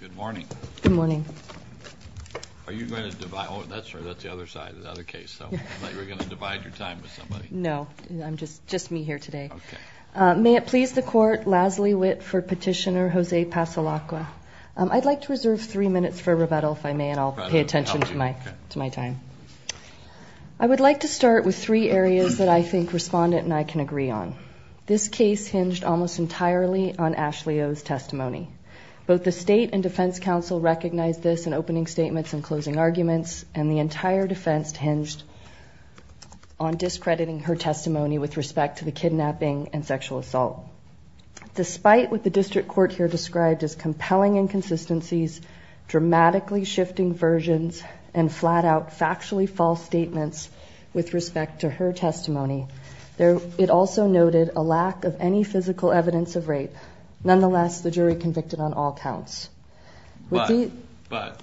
Good morning. Good morning. Are you going to divide? Oh, that's the other side, the other case. I thought you were going to divide your time with somebody. No, just me here today. May it please the Court, Lasley Witt for Petitioner Jose Passalaqua. I'd like to reserve three minutes for rebuttal, if I may, and I'll pay attention to my time. I would like to start with three areas that I think Respondent and I can agree on. This case hinged almost entirely on Ashley O's testimony. Both the State and Defense Council recognized this in opening statements and closing arguments, and the entire defense hinged on discrediting her testimony with respect to the kidnapping and sexual assault. Despite what the District Court here described as compelling inconsistencies, dramatically shifting versions, and flat-out, factually false statements with respect to her testimony, it also noted a lack of any physical evidence of rape. Nonetheless, the jury convicted on all counts. But,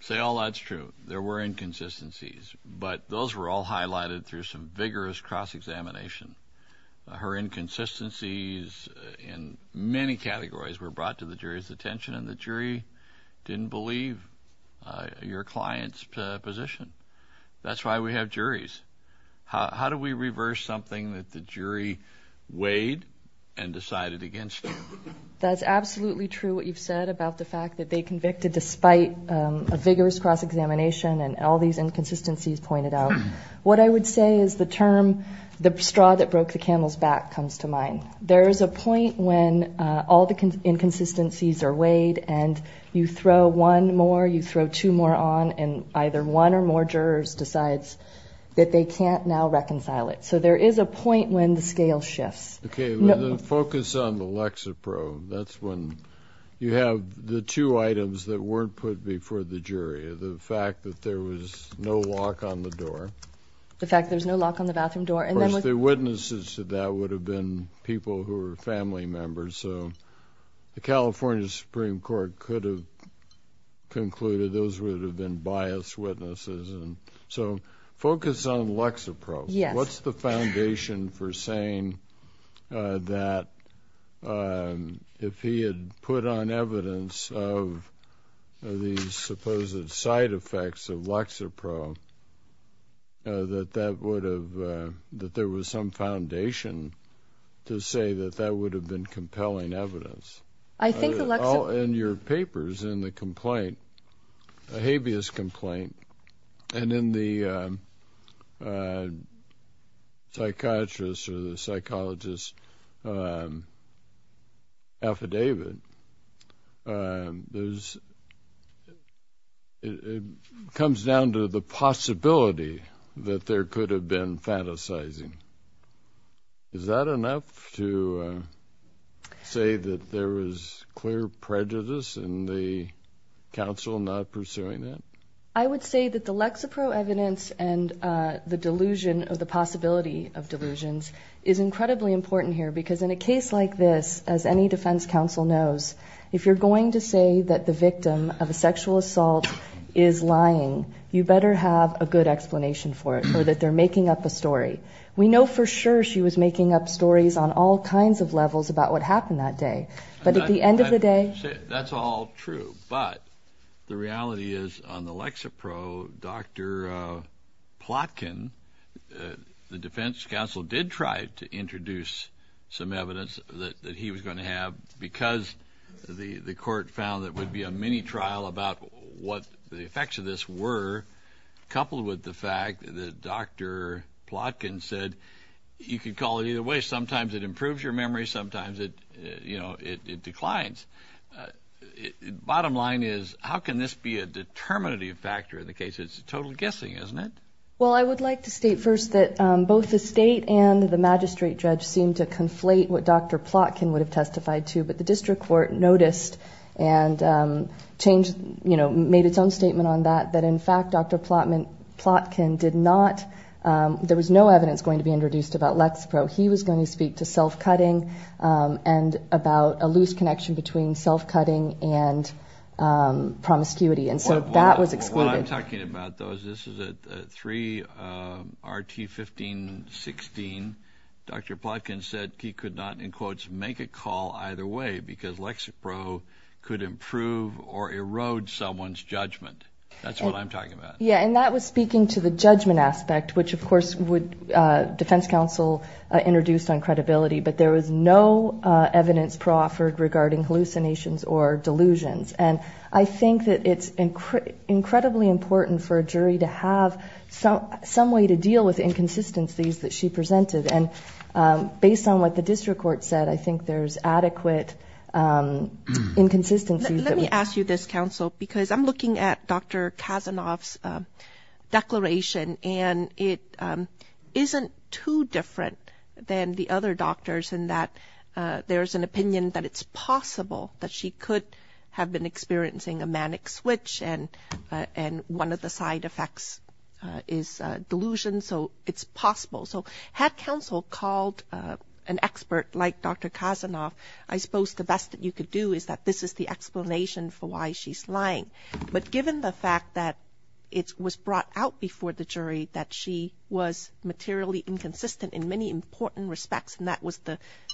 say all that's true, there were inconsistencies, but those were all highlighted through some vigorous cross-examination. Her inconsistencies in many categories were brought to the jury's attention, and the jury didn't believe your client's position. That's why we have juries. How do we reverse something that the jury weighed and decided against? That's absolutely true what you've said about the fact that they convicted despite a vigorous cross-examination and all these inconsistencies pointed out. What I would say is the term, the straw that broke the camel's back, comes to mind. There is a point when all the inconsistencies are weighed and you throw one more, you throw two more on, and either one or more jurors decides that they can't now reconcile it. So there is a point when the scale shifts. Okay. Focus on the Lexapro. That's when you have the two items that weren't put before the jury, the fact that there was no lock on the door. The fact there's no lock on the bathroom door. Of course, the witnesses to that would have been people who were family members, so the California Supreme Court could have concluded those would have been biased witnesses. So focus on Lexapro. What's the foundation for saying that if he had put on evidence of these supposed side effects of Lexapro, that there was some foundation to say that that would have been compelling evidence? I think the Lexapro. In your papers in the complaint, a habeas complaint, and in the psychiatrist or the psychologist's affidavit, it comes down to the possibility that there could have been fantasizing. Is that enough to say that there was clear prejudice in the counsel not pursuing that? I would say that the Lexapro evidence and the delusion or the possibility of delusions is incredibly important here, because in a case like this, as any defense counsel knows, if you're going to say that the victim of a sexual assault is lying, you better have a good explanation for it or that they're making up a story. We know for sure she was making up stories on all kinds of levels about what happened that day. But at the end of the day. That's all true. But the reality is on the Lexapro, Dr. Plotkin, the defense counsel did try to introduce some evidence that he was going to have, because the court found there would be a mini trial about what the effects of this were, coupled with the fact that Dr. Plotkin said you could call it either way. Sometimes it improves your memory. Sometimes it declines. Bottom line is, how can this be a determinative factor in the case? It's a total guessing, isn't it? Well, I would like to state first that both the state and the magistrate judge seemed to conflate what Dr. Plotkin would have testified to. But the district court noticed and made its own statement on that, that, in fact, Dr. Plotkin did not. There was no evidence going to be introduced about Lexapro. He was going to speak to self-cutting and about a loose connection between self-cutting and promiscuity. And so that was excluded. What I'm talking about, though, is this is a 3RT 1516. Dr. Plotkin said he could not, in quotes, make a call either way because Lexapro could improve or erode someone's judgment. That's what I'm talking about. Yeah, and that was speaking to the judgment aspect, which, of course, would defense counsel introduced on credibility. But there was no evidence proffered regarding hallucinations or delusions. And I think that it's incredibly important for a jury to have some way to deal with inconsistencies that she presented. And based on what the district court said, I think there's adequate inconsistencies. Let me ask you this, counsel, because I'm looking at Dr. Kazanov's declaration, and it isn't too different than the other doctors in that there is an opinion that it's possible that she could have been experiencing a manic switch. And one of the side effects is delusion. So it's possible. So had counsel called an expert like Dr. Kazanov, I suppose the best that you could do is that this is the explanation for why she's lying. But given the fact that it was brought out before the jury that she was materially inconsistent in many important respects, and that was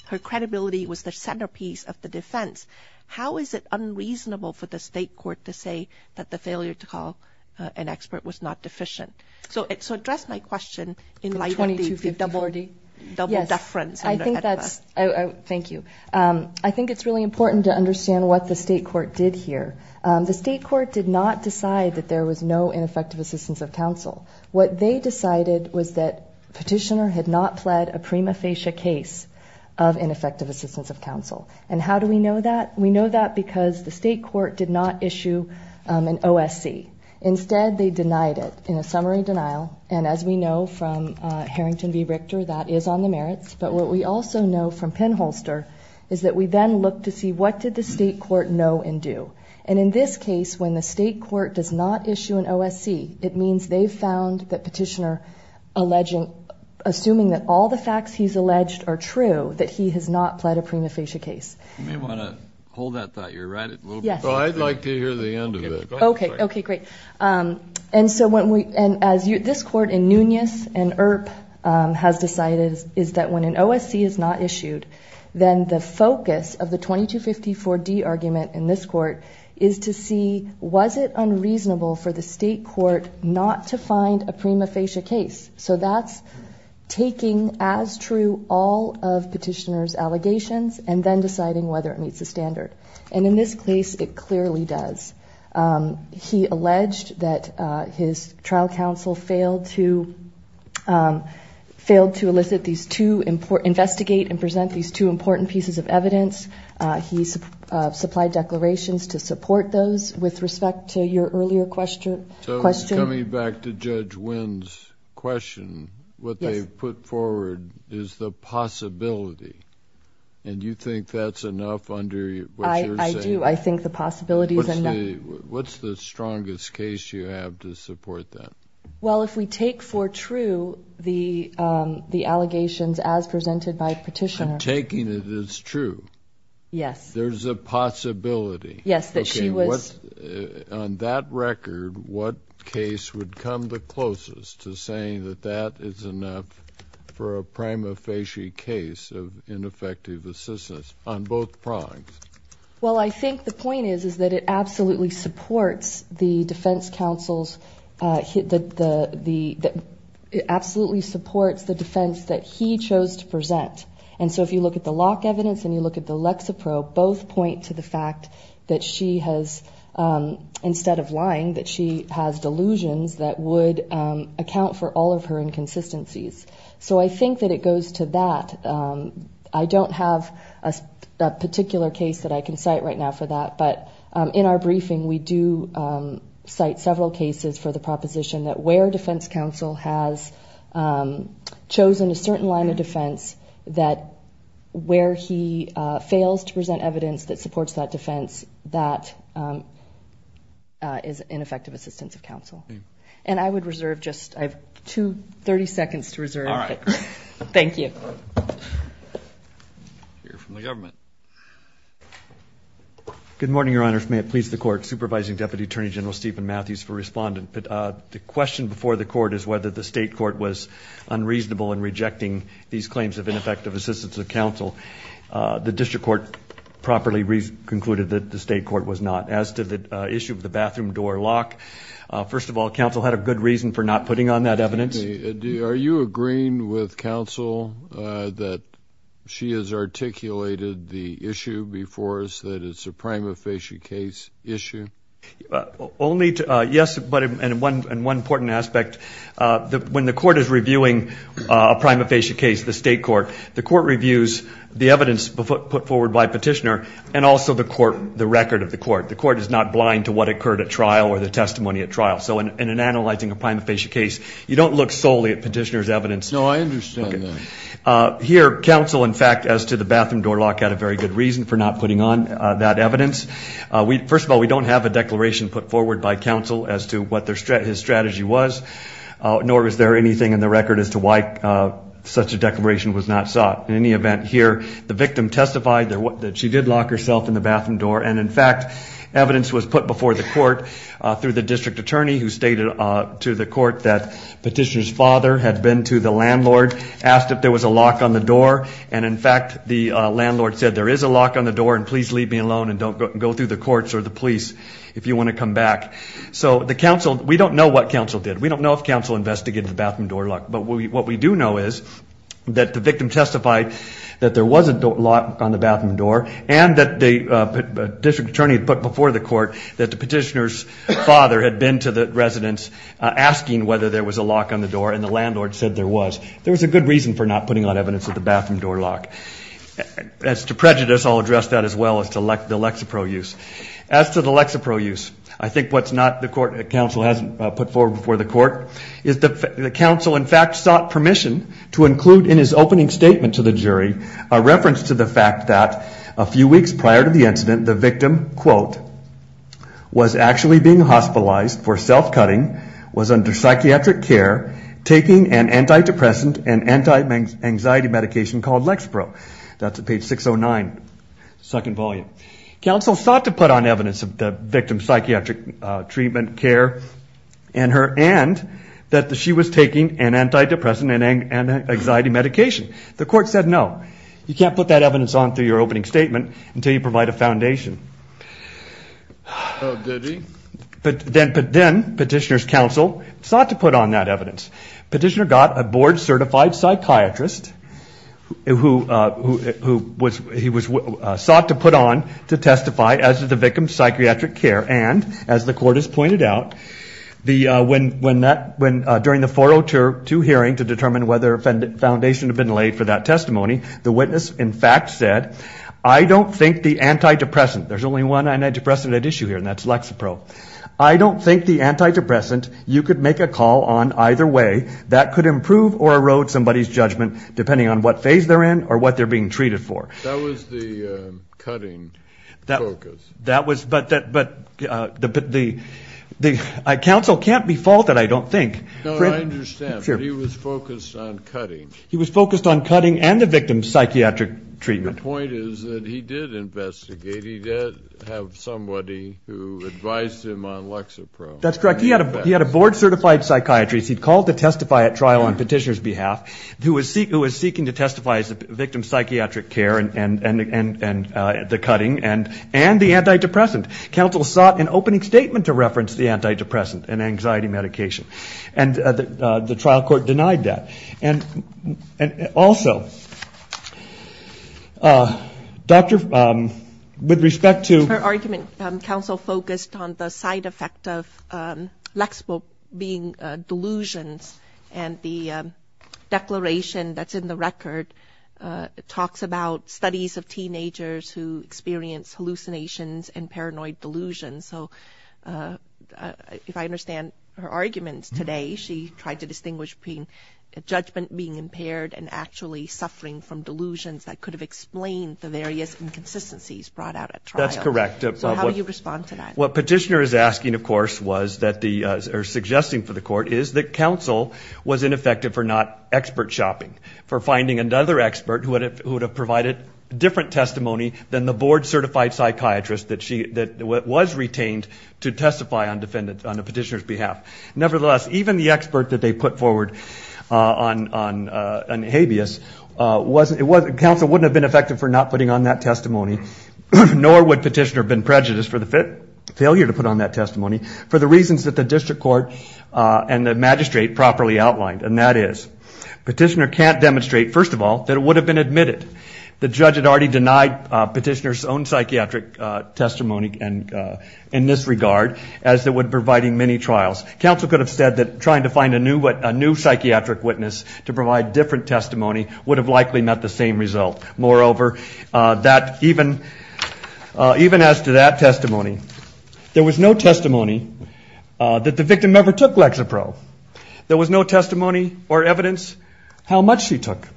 her credibility was the centerpiece of the defense, how is it unreasonable for the state court to say that the failure to call an expert was not deficient? So to address my question in light of the double deference. Thank you. I think it's really important to understand what the state court did here. The state court did not decide that there was no ineffective assistance of counsel. What they decided was that petitioner had not pled a prima facie case of ineffective assistance of counsel. And how do we know that? We know that because the state court did not issue an OSC. Instead, they denied it in a summary denial. And as we know from Harrington v. Richter, that is on the merits. But what we also know from Penholster is that we then look to see what did the state court know and do. And in this case, when the state court does not issue an OSC, it means they've found that petitioner, assuming that all the facts he's alleged are true, that he has not pled a prima facie case. You may want to hold that thought. You're right. I'd like to hear the end of it. Okay. Okay, great. This court in Nunez and Earp has decided is that when an OSC is not issued, then the focus of the 2254D argument in this court is to see was it unreasonable for the state court not to find a prima facie case. So that's taking as true all of petitioner's allegations and then deciding whether it meets the standard. And in this case, it clearly does. He alleged that his trial counsel failed to elicit these two important – investigate and present these two important pieces of evidence. He supplied declarations to support those. With respect to your earlier question. So coming back to Judge Wynn's question, what they've put forward is the possibility. And you think that's enough under what you're saying? I do. I think the possibility is enough. What's the strongest case you have to support that? Well, if we take for true the allegations as presented by petitioner. Taking it as true. Yes. There's a possibility. Yes, that she was. On that record, what case would come the closest to saying that that is enough for a prima facie case of ineffective assistance on both prongs? Well, I think the point is, is that it absolutely supports the defense counsel's – it absolutely supports the defense that he chose to present. And so if you look at the lock evidence and you look at the Lexapro, both point to the fact that she has, instead of lying, that she has delusions that would account for all of her inconsistencies. So I think that it goes to that. I don't have a particular case that I can cite right now for that. But in our briefing, we do cite several cases for the proposition that where defense counsel has chosen a certain line of defense, that where he fails to present evidence that supports that defense, that is ineffective assistance of counsel. And I would reserve just – I have 30 seconds to reserve. All right. Thank you. We'll hear from the government. Good morning, Your Honor. May it please the Court. Supervising Deputy Attorney General Stephen Matthews for respondent. The question before the Court is whether the state court was unreasonable in rejecting these claims of ineffective assistance of counsel. The district court properly concluded that the state court was not. As to the issue of the bathroom door lock, first of all, counsel had a good reason for not putting on that evidence. Excuse me. Are you agreeing with counsel that she has articulated the issue before us, that it's a prima facie case issue? Yes, but in one important aspect, when the court is reviewing a prima facie case, the state court, the court reviews the evidence put forward by a petitioner and also the record of the court. The court is not blind to what occurred at trial or the testimony at trial. So in analyzing a prima facie case, you don't look solely at petitioner's evidence. No, I understand that. Here, counsel, in fact, as to the bathroom door lock, had a very good reason for not putting on that evidence. First of all, we don't have a declaration put forward by counsel as to what his strategy was, nor is there anything in the record as to why such a declaration was not sought. In any event, here, the victim testified that she did lock herself in the bathroom door, and, in fact, evidence was put before the court through the district attorney who stated to the court that petitioner's father had been to the landlord, asked if there was a lock on the door, and, in fact, the landlord said there is a lock on the door and please leave me alone and don't go through the courts or the police if you want to come back. So the counsel, we don't know what counsel did. We don't know if counsel investigated the bathroom door lock, but what we do know is that the victim testified that there was a lock on the bathroom door and that the district attorney put before the court that the petitioner's father had been to the residence asking whether there was a lock on the door and the landlord said there was. There was a good reason for not putting on evidence of the bathroom door lock. As to prejudice, I'll address that as well as to the Lexapro use. As to the Lexapro use, I think what's not the court, that counsel hasn't put forward before the court is that the counsel, in fact, sought permission to include in his opening statement to the jury a reference to the fact that a few weeks prior to the incident, the victim, quote, was actually being hospitalized for self-cutting, was under psychiatric care, taking an antidepressant and anti-anxiety medication called Lexapro. That's at page 609, second volume. Counsel sought to put on evidence of the victim's psychiatric treatment, care, and her end that she was taking an antidepressant and anxiety medication. The court said no. You can't put that evidence on through your opening statement until you provide a foundation. Then petitioner's counsel sought to put on that evidence. Petitioner got a board-certified psychiatrist who he sought to put on to testify as to the victim's psychiatric care. And as the court has pointed out, during the 402 hearing to determine whether a foundation had been laid for that testimony, the witness, in fact, said, I don't think the antidepressant, there's only one antidepressant at issue here, and that's Lexapro, I don't think the antidepressant you could make a call on either way that could improve or erode somebody's judgment depending on what phase they're in or what they're being treated for. That was the cutting focus. But the counsel can't be faulted, I don't think. No, I understand, but he was focused on cutting. He was focused on cutting and the victim's psychiatric treatment. The point is that he did investigate. He did have somebody who advised him on Lexapro. That's correct. He had a board-certified psychiatrist he'd called to testify at trial on petitioner's behalf who was seeking to testify as to the victim's psychiatric care and the cutting and the antidepressant. Counsel sought an opening statement to reference the antidepressant and anxiety medication. And the trial court denied that. And also, Doctor, with respect to ---- Her argument, counsel focused on the side effect of Lexapro being delusions, and the declaration that's in the record talks about studies of teenagers who experience hallucinations and paranoid delusions. So if I understand her arguments today, she tried to distinguish between judgment being impaired and actually suffering from delusions that could have explained the various inconsistencies brought out at trial. That's correct. So how do you respond to that? What petitioner is asking, of course, or suggesting for the court, is that counsel was ineffective for not expert shopping, for finding another expert who would have provided different testimony than the board-certified psychiatrist that was retained to testify on a petitioner's behalf. Nevertheless, even the expert that they put forward on habeas, counsel wouldn't have been effective for not putting on that testimony, nor would petitioner have been prejudiced for the failure to put on that testimony, for the reasons that the district court and the magistrate properly outlined, and that is, petitioner can't demonstrate, first of all, that it would have been admitted. The judge had already denied petitioner's own psychiatric testimony in this regard, as it would provide in many trials. Counsel could have said that trying to find a new psychiatric witness to provide different testimony would have likely met the same result. Moreover, even as to that testimony, there was no testimony that the victim never took Lexapro. There was no testimony or evidence how much she took.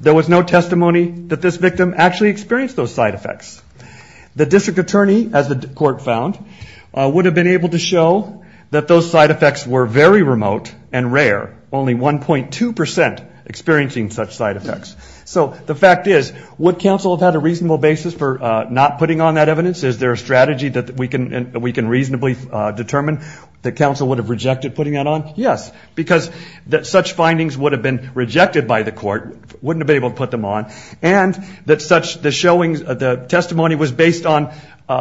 There was no testimony that this victim actually experienced those side effects. The district attorney, as the court found, would have been able to show that those side effects were very remote and rare, only 1.2% experiencing such side effects. So the fact is, would counsel have had a reasonable basis for not putting on that evidence? Is there a strategy that we can reasonably determine that counsel would have rejected putting that on? Yes, because such findings would have been rejected by the court, wouldn't have been able to put them on, and the testimony was based on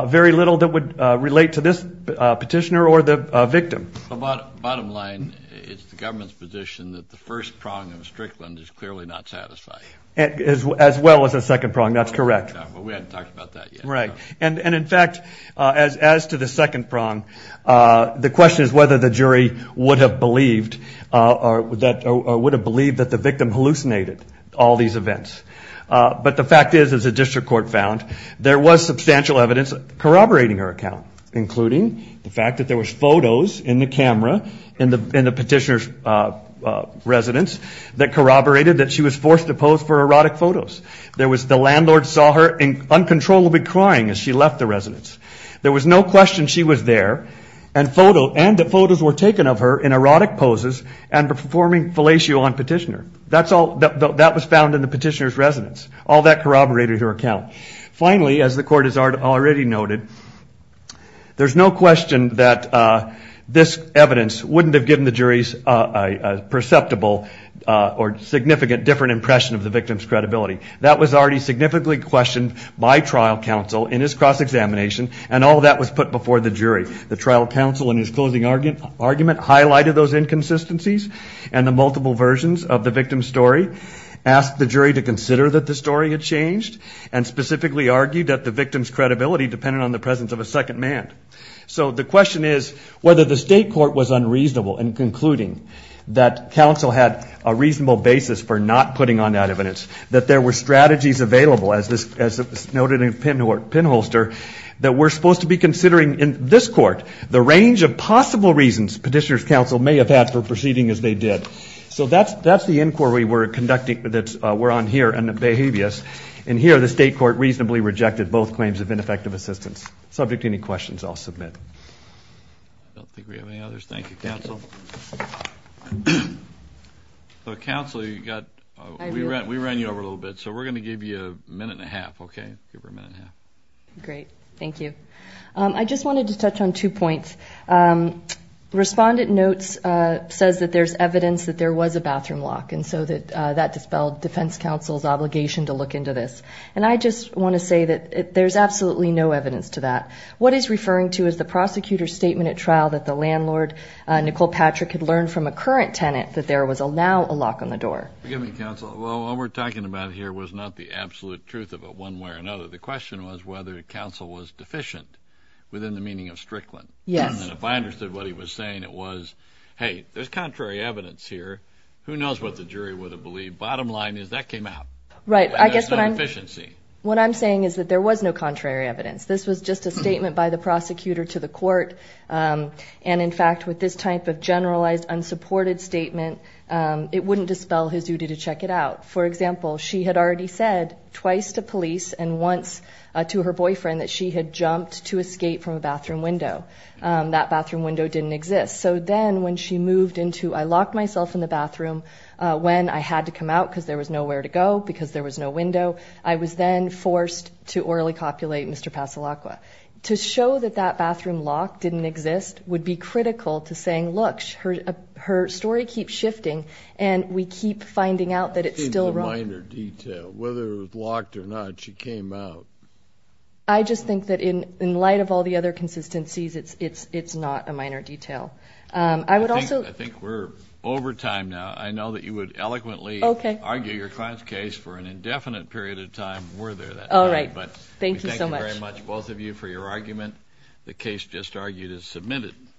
very little that would relate to this petitioner or the victim. Bottom line, it's the government's position that the first prong of Strickland is clearly not satisfying. As well as the second prong, that's correct. We haven't talked about that yet. Right, and in fact, as to the second prong, the question is whether the jury would have believed that the victim hallucinated all these events. But the fact is, as the district court found, there was substantial evidence corroborating her account, including the fact that there was photos in the camera in the petitioner's residence that corroborated that she was forced to pose for erotic photos. The landlord saw her uncontrollably crying as she left the residence. There was no question she was there, and the photos were taken of her in erotic poses and performing fellatio on petitioner. That was found in the petitioner's residence. All that corroborated her account. Finally, as the court has already noted, there's no question that this evidence wouldn't have given the jury's perceptible or significant different impression of the victim's credibility. That was already significantly questioned by trial counsel in his cross-examination, and all of that was put before the jury. The trial counsel in his closing argument highlighted those inconsistencies and the multiple versions of the victim's story, asked the jury to consider that the story had changed, and specifically argued that the victim's credibility depended on the presence of a second man. So the question is whether the state court was unreasonable in concluding that counsel had a reasonable basis for not putting on that evidence, that there were strategies available, as noted in the pinholster, that we're supposed to be considering in this court, the range of possible reasons petitioner's counsel may have had for proceeding as they did. So that's the inquiry we're conducting that we're on here in the behaviors, and here the state court reasonably rejected both claims of ineffective assistance. Subject to any questions, I'll submit. I don't think we have any others. Thank you, counsel. Counsel, we ran you over a little bit, so we're going to give you a minute and a half. Okay, give her a minute and a half. Great. Thank you. I just wanted to touch on two points. Respondent notes says that there's evidence that there was a bathroom lock, and so that dispelled defense counsel's obligation to look into this. And I just want to say that there's absolutely no evidence to that. What is referring to is the prosecutor's statement at trial that the landlord, Nicole Patrick, had learned from a current tenant that there was now a lock on the door. Well, what we're talking about here was not the absolute truth of it one way or another. The question was whether counsel was deficient within the meaning of Strickland. Yes. And if I understood what he was saying, it was, hey, there's contrary evidence here. Who knows what the jury would have believed. Bottom line is that came out. Right. I guess what I'm saying is that there was no contrary evidence. This was just a statement by the prosecutor to the court. And, in fact, with this type of generalized unsupported statement, it wouldn't dispel his duty to check it out. For example, she had already said twice to police and once to her boyfriend that she had jumped to escape from a bathroom window. That bathroom window didn't exist. So then when she moved into, I locked myself in the bathroom when I had to come out because there was nowhere to go, because there was no window. I was then forced to orally copulate Mr. Pasolacqua. To show that that bathroom lock didn't exist would be critical to saying, look, her story keeps shifting and we keep finding out that it's still wrong. It's a minor detail. Whether it was locked or not, she came out. I just think that in light of all the other consistencies, it's not a minor detail. I would also. I think we're over time now. I know that you would eloquently argue your client's case for an indefinite period of time were there that time. All right. Thank you so much. We thank you very much, both of you, for your argument. The case just argued is submitted.